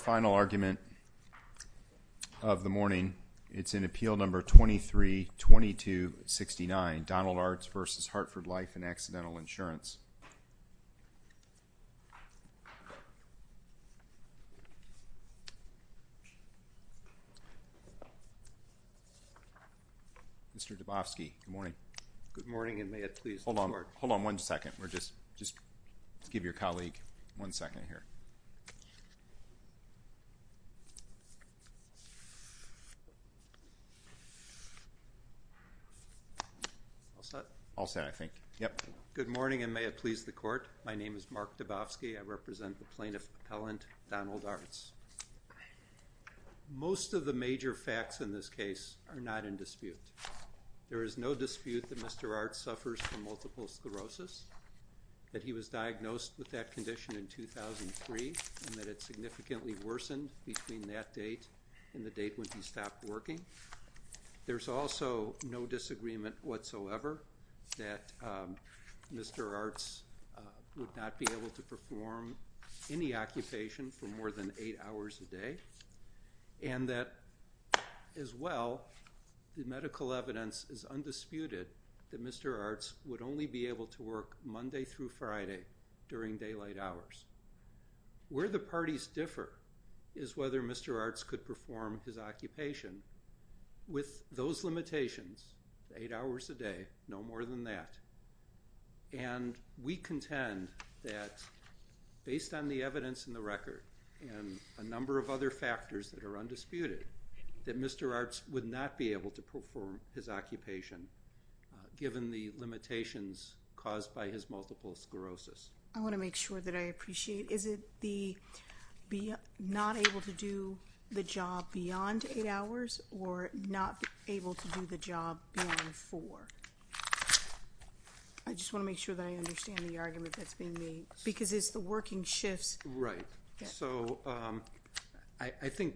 Final argument of the morning, it's in Appeal No. 23-2269, Donald Artz v. Hartford Life & Accidental Good morning, and may it please the Court, my name is Mark Dabofsky, I represent the Plaintiff Appellant, Donald Artz. Most of the major facts in this case are not in dispute. There is no dispute that Mr. Artz suffers from multiple sclerosis, that he was diagnosed with that condition in 2003, and that it significantly worsened between that date and the date when he stopped working. There's also no disagreement whatsoever that Mr. Artz would not be able to perform any occupation for more than eight hours a day, and that as well, the medical evidence is undisputed that Mr. Artz would only be able to work Monday through Friday during daylight hours. Where the parties differ is whether Mr. Artz could perform his occupation with those limitations, eight hours a day, no more than that. And we contend that based on the evidence in the record and a number of other factors that are undisputed, that Mr. Artz would not be able to perform his occupation given the limitations caused by his multiple sclerosis. I want to make sure that I appreciate, is it the not able to do the job beyond eight hours, or not able to do the job beyond four? I just want to make sure that I understand the argument that's being made. Because it's the working shifts. Right. So, I think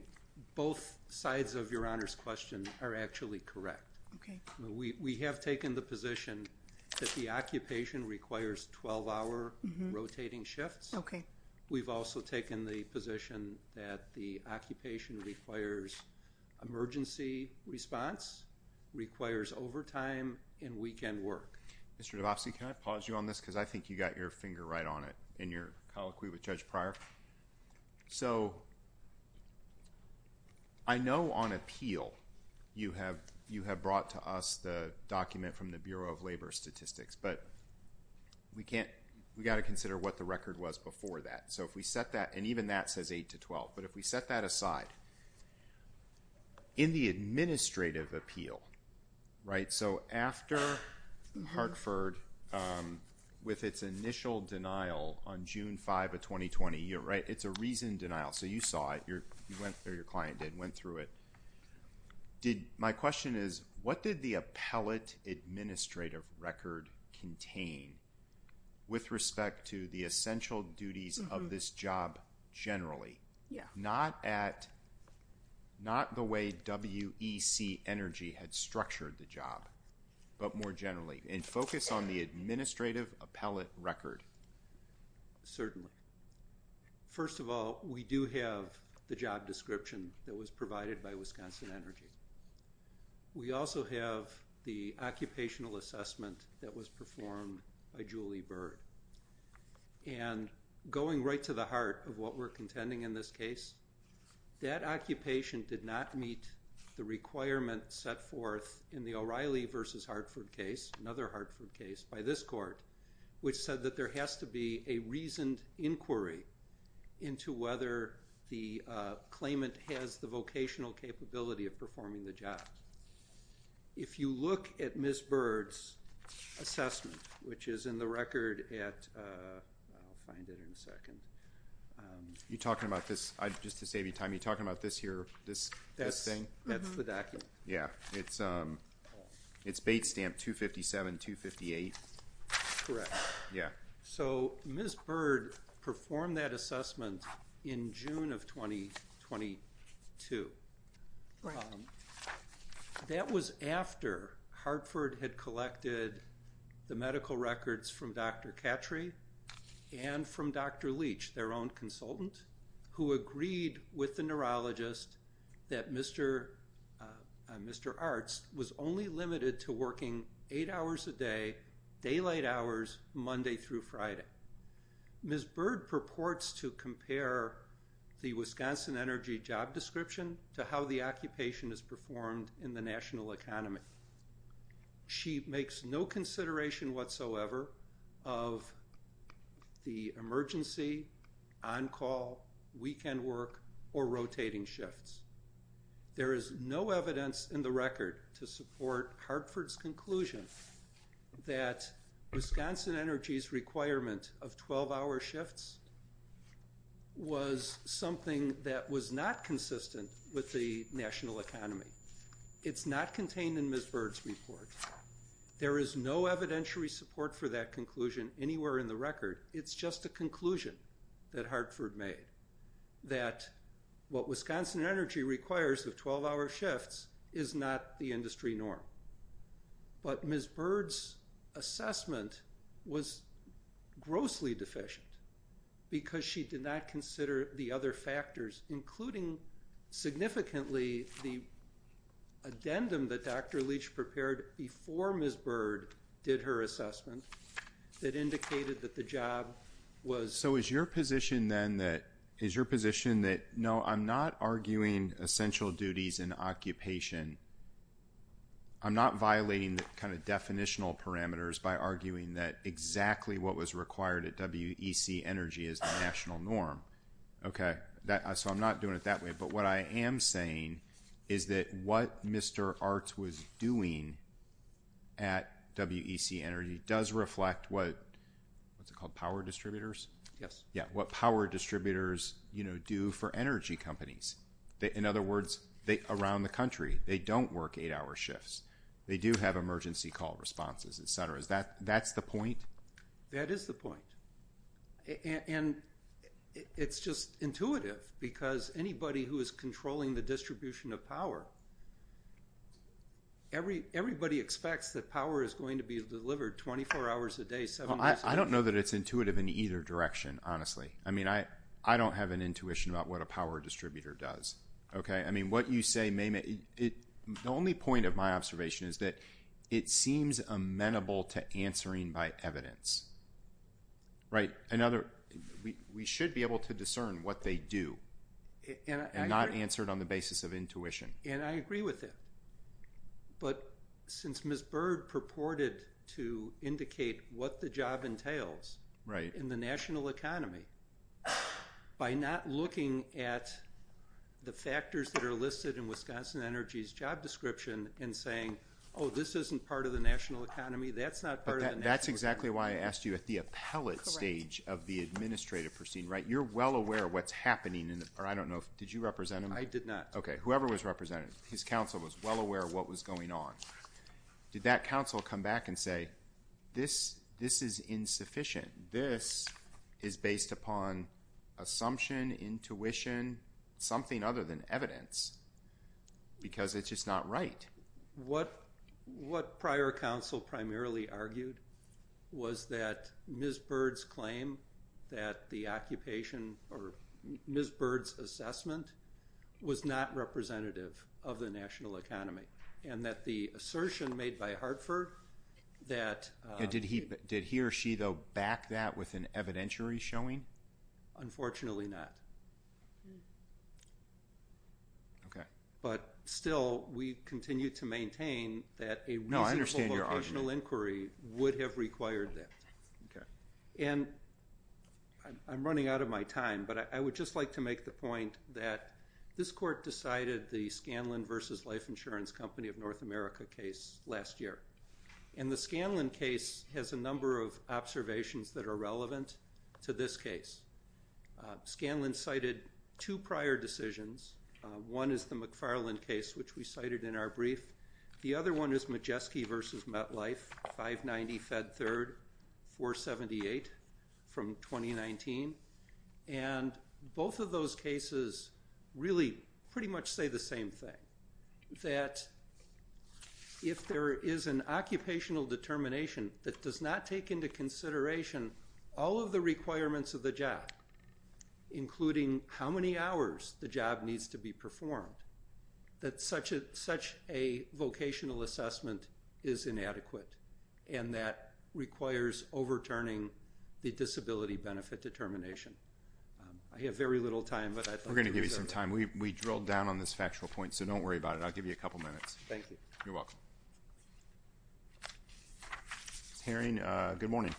both sides of Your Honor's question are actually correct. Okay. We have taken the position that the occupation requires 12-hour rotating shifts. Okay. We've also taken the position that the occupation requires emergency response, requires overtime and weekend work. Mr. DeBofsky, can I pause you on this? Because I think you got your finger right on it in your colloquy with Judge Pryor. So, I know on appeal you have brought to us the document from the Bureau of Labor Statistics, but we've got to consider what the record was before that. So, if we set that, and even that says 8 to 12, but if we set that aside, in the administrative appeal, right? So, after Hartford, with its initial denial on June 5 of 2020, it's a reasoned denial. So, you saw it. You went through it. Your client did. Went through it. My question is, what did the appellate administrative record contain with respect to the essential duties of this job generally? Yeah. Not the way WEC Energy had structured the job, but more generally. And focus on the administrative appellate record. Certainly. First of all, we do have the job description that was provided by Wisconsin Energy. We also have the occupational assessment that was performed by Julie Byrd. And going right to the heart of what we're contending in this case, that occupation did not meet the requirement set forth in the O'Reilly versus Hartford case, another Hartford case, by this court, which said that there has to be a reasoned inquiry into whether the claimant has the vocational capability of performing the job. If you look at Ms. Byrd's assessment, which is in the record at, I'll find it in a second. You're talking about this, just to save you time, you're talking about this here, this thing? That's the document. Yeah. It's bait stamp 257, 258. Correct. Yeah. So, Ms. Byrd performed that assessment in June of 2022. Right. That was after Hartford had collected the medical records from Dr. Cattry and from Dr. Leach, their own consultant, who agreed with the neurologist that Mr. Arts was only limited to working eight hours a day, daylight hours, Monday through Friday. Ms. Byrd purports to compare the Wisconsin Energy job description to how the occupation is performed in the national economy. She makes no consideration whatsoever of the emergency, on-call, weekend work, or rotating shifts. There is no evidence in the record to support Hartford's conclusion that Wisconsin Energy's requirement of 12-hour shifts was something that was not consistent with the national economy. It's not contained in Ms. Byrd's report. There is no evidentiary support for that conclusion anywhere in the record. It's just a conclusion that Hartford made, that what Wisconsin Energy requires of 12-hour shifts is not the industry norm. But Ms. Byrd's assessment was grossly deficient because she did not consider the other factors, including significantly the addendum that Dr. Leach prepared before Ms. Byrd did her assessment that indicated that the job was... So is your position then that, is your position that, no, I'm not arguing essential duties in occupation. I'm not violating the kind of definitional parameters by arguing that exactly what was required at WEC Energy is the national norm. Okay. So I'm not doing it that way. But what I am saying is that what Mr. Hart was doing at WEC Energy does reflect what, what's it called, power distributors? Yes. Yeah, what power distributors, you know, do for energy companies. In other words, around the country, they don't work 8-hour shifts. They do have emergency call responses, et cetera. Is that, that's the point? That is the point. And it's just intuitive because anybody who is controlling the distribution of power, everybody expects that power is going to be delivered 24 hours a day, 7 days a week. Well, I don't know that it's intuitive in either direction, honestly. I mean, I don't have an intuition about what a power distributor does. Okay. I mean, what you say may, the only point of my observation is that it seems amenable to answering by evidence. Right. Another, we should be able to discern what they do and not answer it on the basis of intuition. And I agree with that. But since Ms. Bird purported to indicate what the job entails in the national economy, by not looking at the factors that are listed in Wisconsin Energy's job description and saying, oh, this isn't part of the national economy, that's not part of the national economy. That's exactly why I asked you at the appellate stage of the administrative proceeding. Right. You're well aware of what's happening in the, or I don't know, did you represent him? I did not. Okay. So, if Ms. Bird's counsel was well aware of what was going on, did that counsel come back and say, this is insufficient, this is based upon assumption, intuition, something other than evidence, because it's just not right? What prior counsel primarily argued was that Ms. Bird's claim that the occupation, or Ms. Bird's assessment, was not representative of the national economy. And that the assertion made by Hartford that... Did he or she, though, back that with an evidentiary showing? Unfortunately not. Okay. But still, we continue to maintain that a reasonable locational inquiry would have required that. Okay. And I'm running out of my time, but I would just like to make the point that this court decided the Scanlon versus Life Insurance Company of North America case last year. And the Scanlon case has a number of observations that are relevant to this case. Scanlon cited two prior decisions. One is the McFarland case, which we cited in our brief. The other one is Majeski versus MetLife, 590 Fed Third, 478 from 2019. And both of those cases really pretty much say the same thing. That if there is an occupational determination that does not take into consideration all of the requirements of the job, including how many hours the job needs to be performed, that such a vocational assessment is inadequate and that requires overturning the disability benefit determination. I have very little time, but I thought... We're going to give you some time. We drilled down on this factual point, so don't worry about it. I'll give you a couple minutes. Thank you. You're welcome. Hearing... Good morning.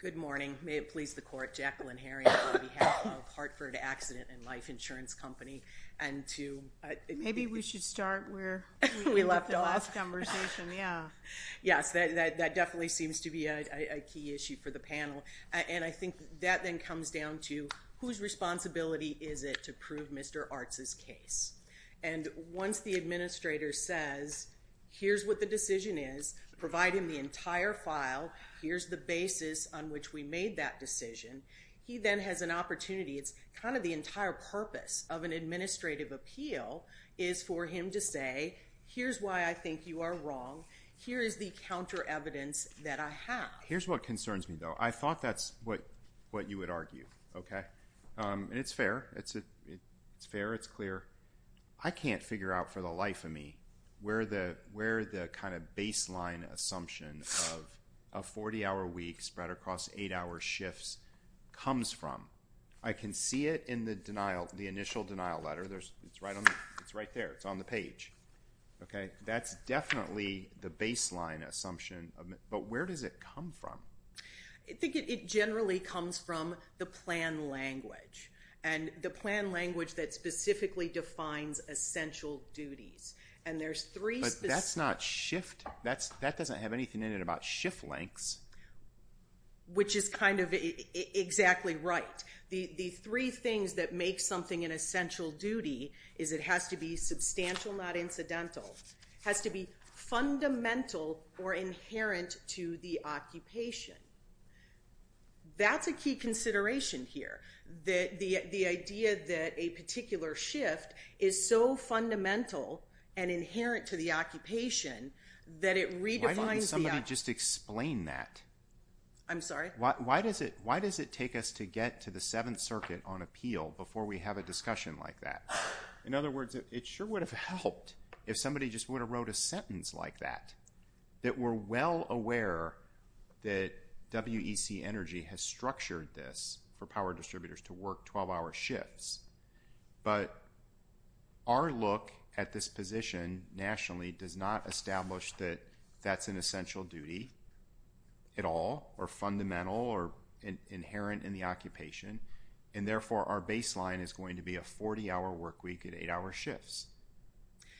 Good morning. May it please the court. Jacqueline Herring on behalf of Hartford Accident and Life Insurance Company. And to... Maybe we should start where we left off in the last conversation. Yeah. Yes. That definitely seems to be a key issue for the panel. And I think that then comes down to whose responsibility is it to prove Mr. Arts' case? And once the administrator says, here's what the decision is, providing the entire file, here's the basis on which we made that decision, he then has an opportunity. It's kind of the entire purpose of an administrative appeal is for him to say, here's why I think you are wrong. Here is the counter evidence that I have. Here's what concerns me, though. I thought that's what you would argue, okay? And it's fair. It's fair. It's clear. I can't figure out for the life of me where the kind of baseline assumption of a 40-hour week spread across 8-hour shifts comes from. I can see it in the initial denial letter. It's right there. It's on the page. Okay? That's definitely the baseline assumption. But where does it come from? I think it generally comes from the plan language. And the plan language that specifically defines essential duties. And there's three specific But that's not shift. That doesn't have anything in it about shift lengths. Which is kind of exactly right. The three things that make something an essential duty is it has to be substantial, not incidental. It has to be fundamental or inherent to the occupation. That's a key consideration here, the idea that a particular shift is so fundamental and inherent to the occupation that it redefines the Why didn't somebody just explain that? I'm sorry? Why does it take us to get to the Seventh Circuit on appeal before we have a discussion like that? In other words, it sure would have helped if somebody just would have wrote a sentence like that. That we're well aware that WEC Energy has structured this for power distributors to work 12-hour shifts. But our look at this position nationally does not establish that that's an essential duty at all. Or fundamental or inherent in the occupation. And therefore, our baseline is going to be a 40-hour work week at 8-hour shifts.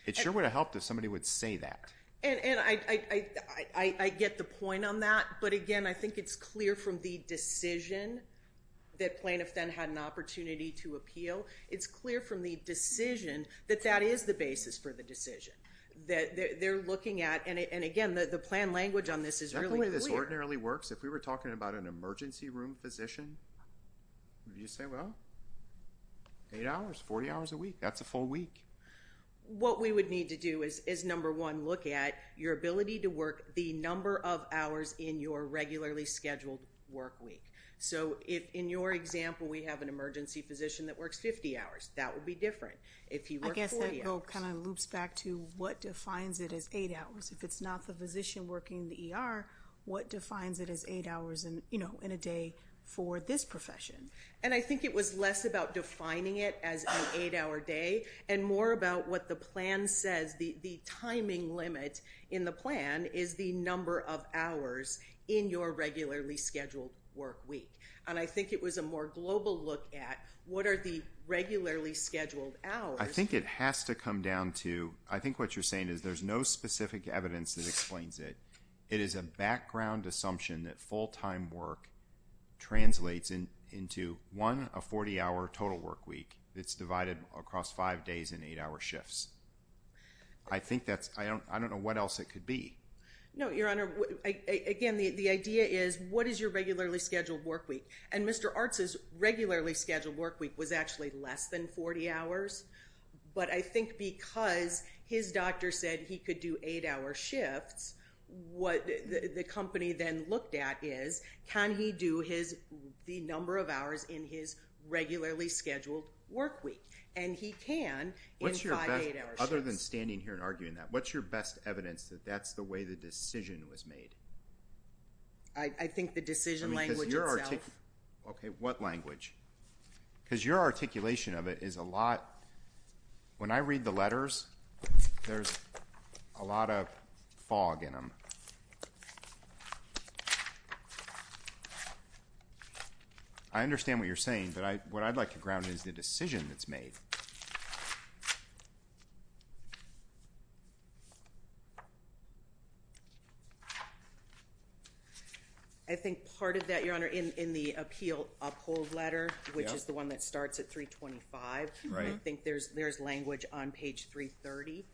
It sure would have helped if somebody would say that. And I get the point on that. But, again, I think it's clear from the decision that plaintiffs then had an opportunity to appeal. It's clear from the decision that that is the basis for the decision. That they're looking at. And, again, the plan language on this is really clear. If we were talking about an emergency room physician, you say, well, 8 hours, 40 hours a week. That's a full week. What we would need to do is, number one, look at your ability to work the number of hours in your regularly scheduled work week. So, in your example, we have an emergency physician that works 50 hours. That would be different. I guess that kind of loops back to what defines it as 8 hours. If it's not the physician working the ER, what defines it as 8 hours in a day for this profession? And I think it was less about defining it as an 8-hour day and more about what the plan says. The timing limit in the plan is the number of hours in your regularly scheduled work week. And I think it was a more global look at what are the regularly scheduled hours. I think it has to come down to, I think what you're saying is there's no specific evidence that explains it. It is a background assumption that full-time work translates into one 40-hour total work week. It's divided across 5 days and 8-hour shifts. I think that's, I don't know what else it could be. No, Your Honor. Again, the idea is, what is your regularly scheduled work week? And Mr. Arts' regularly scheduled work week was actually less than 40 hours. But I think because his doctor said he could do 8-hour shifts, what the company then looked at is, can he do the number of hours in his regularly scheduled work week? And he can in 5, 8-hour shifts. What's your best, other than standing here and arguing that, what's your best evidence that that's the way the decision was made? I think the decision language itself. Okay, what language? Because your articulation of it is a lot, when I read the letters, there's a lot of fog in them. I understand what you're saying, but what I'd like to ground is the decision that's made. I think part of that, Your Honor, in the Appeal Uphold Letter, which is the one that starts at 325, I think there's language on page 330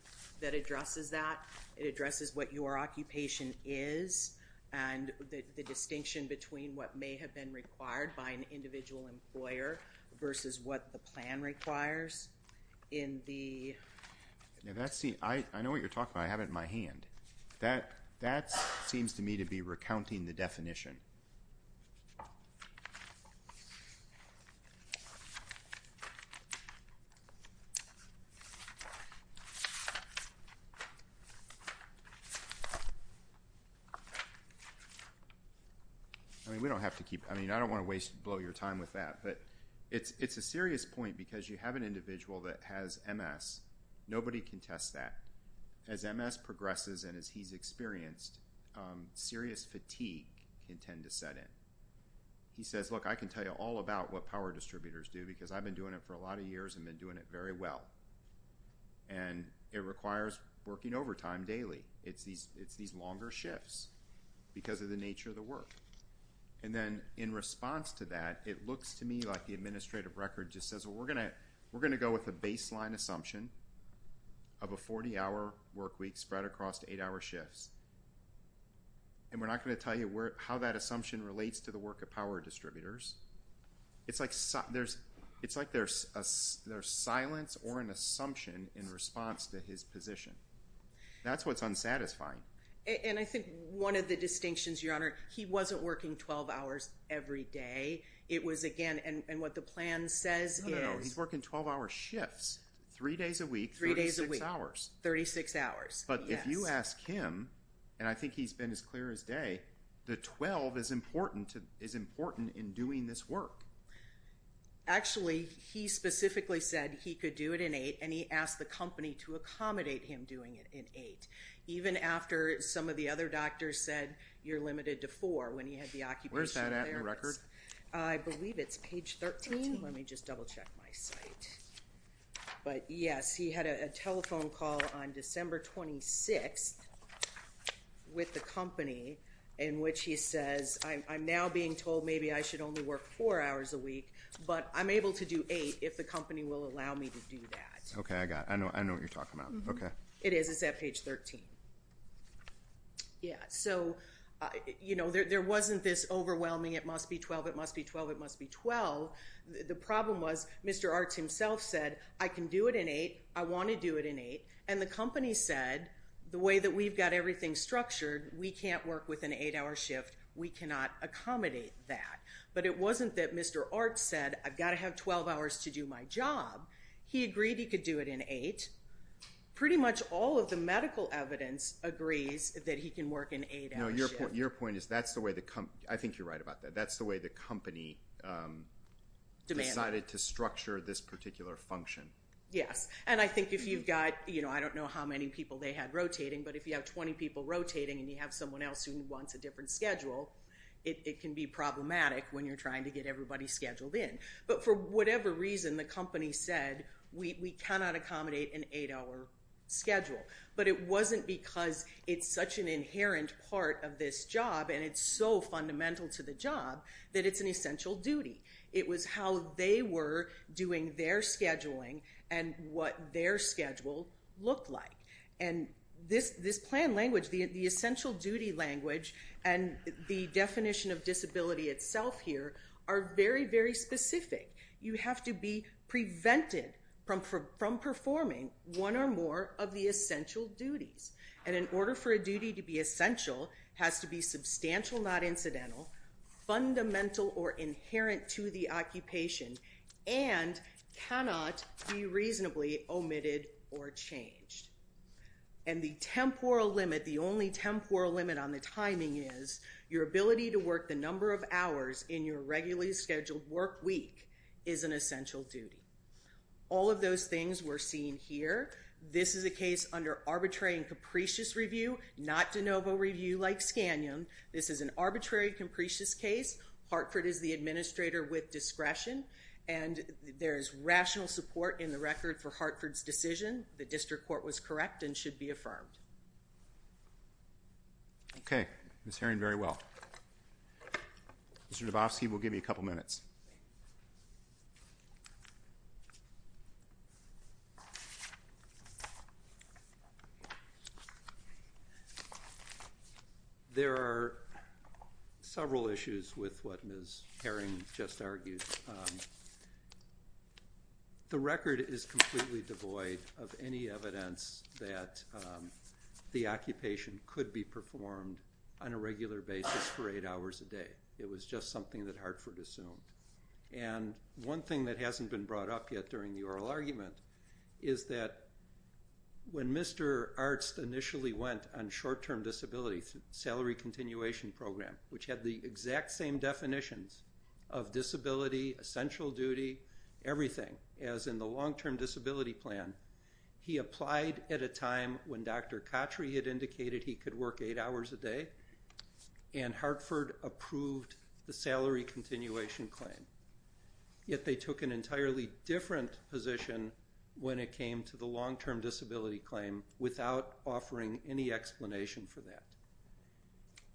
that addresses that. It addresses what your occupation is and the distinction between what may have been required by an individual employer versus what the plan requires. I know what you're talking about. I have it in my hand. That seems to me to be recounting the definition. I mean, we don't have to keep, I mean, I don't want to waste, blow your time with that, but it's a serious point because you have an individual that has MS. Nobody can test that. As MS progresses and as he's experienced, serious fatigue can tend to set in. He says, look, I can tell you all about what power distributors do because I've been doing it for a lot of years and been doing it very well, and it requires working overtime daily. It's these longer shifts because of the nature of the work. And then in response to that, it looks to me like the administrative record just says, well, we're going to go with the baseline assumption of a 40-hour work week spread across eight-hour shifts, and we're not going to tell you how that assumption relates to the work of power distributors. It's like there's silence or an assumption in response to his position. That's what's unsatisfying. And I think one of the distinctions, Your Honor, he wasn't working 12 hours every day. And what the plan says is he's working 12-hour shifts, three days a week, 36 hours. But if you ask him, and I think he's been as clear as day, the 12 is important in doing this work. Actually, he specifically said he could do it in eight, and he asked the company to accommodate him doing it in eight, even after some of the other doctors said you're limited to four when he had the occupational therapist. Where's that at in the record? I believe it's page 13. Let me just double-check my site. But, yes, he had a telephone call on December 26th with the company in which he says, I'm now being told maybe I should only work four hours a week, but I'm able to do eight if the company will allow me to do that. Okay, I know what you're talking about. Okay. It is. It's at page 13. Yeah, so, you know, there wasn't this overwhelming it must be 12, it must be 12, it must be 12. The problem was Mr. Art himself said I can do it in eight, I want to do it in eight, and the company said the way that we've got everything structured, we can't work with an eight-hour shift, we cannot accommodate that. But it wasn't that Mr. Art said I've got to have 12 hours to do my job. He agreed he could do it in eight. Pretty much all of the medical evidence agrees that he can work an eight-hour shift. No, your point is that's the way the company, I think you're right about that, that's the way the company decided to structure this particular function. Yes, and I think if you've got, you know, I don't know how many people they had rotating, but if you have 20 people rotating and you have someone else who wants a different schedule, it can be problematic when you're trying to get everybody scheduled in. But for whatever reason, the company said we cannot accommodate an eight-hour schedule. But it wasn't because it's such an inherent part of this job and it's so fundamental to the job that it's an essential duty. It was how they were doing their scheduling and what their schedule looked like. And this plan language, the essential duty language, and the definition of disability itself here are very, very specific. You have to be prevented from performing one or more of the essential duties. And in order for a duty to be essential, it has to be substantial, not incidental, fundamental or inherent to the occupation, and cannot be reasonably omitted or changed. And the temporal limit, the only temporal limit on the timing is your ability to work the number of hours in your regularly scheduled work week is an essential duty. All of those things were seen here. This is a case under arbitrary and capricious review, not de novo review like Scanion. This is an arbitrary, capricious case. Hartford is the administrator with discretion, and there is rational support in the record for Hartford's decision. The district court was correct and should be affirmed. Okay. Ms. Herring, very well. Mr. Dabofsky, we'll give you a couple minutes. There are several issues with what Ms. Herring just argued. The record is completely devoid of any evidence that the occupation could be performed on a regular basis for eight hours a day. It was just something that Hartford assumed. And one thing that hasn't been brought up yet during the oral argument is that when Mr. Arzt initially went on short-term disability salary continuation program, which had the exact same definitions of disability, essential duty, everything, as in the long-term disability plan, he applied at a time when Dr. Cottrey had indicated he could work eight hours a day, and Hartford approved the salary continuation claim. Yet they took an entirely different position when it came to the long-term disability claim without offering any explanation for that.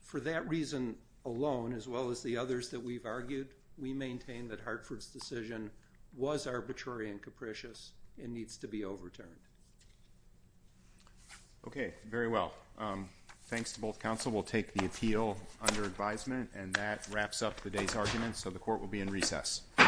For that reason alone, as well as the others that we've argued, we maintain that Hartford's decision was arbitrary and capricious and needs to be overturned. Okay. Very well. Thanks to both counsel. We'll take the appeal under advisement, and that wraps up the day's arguments, so the court will be in recess.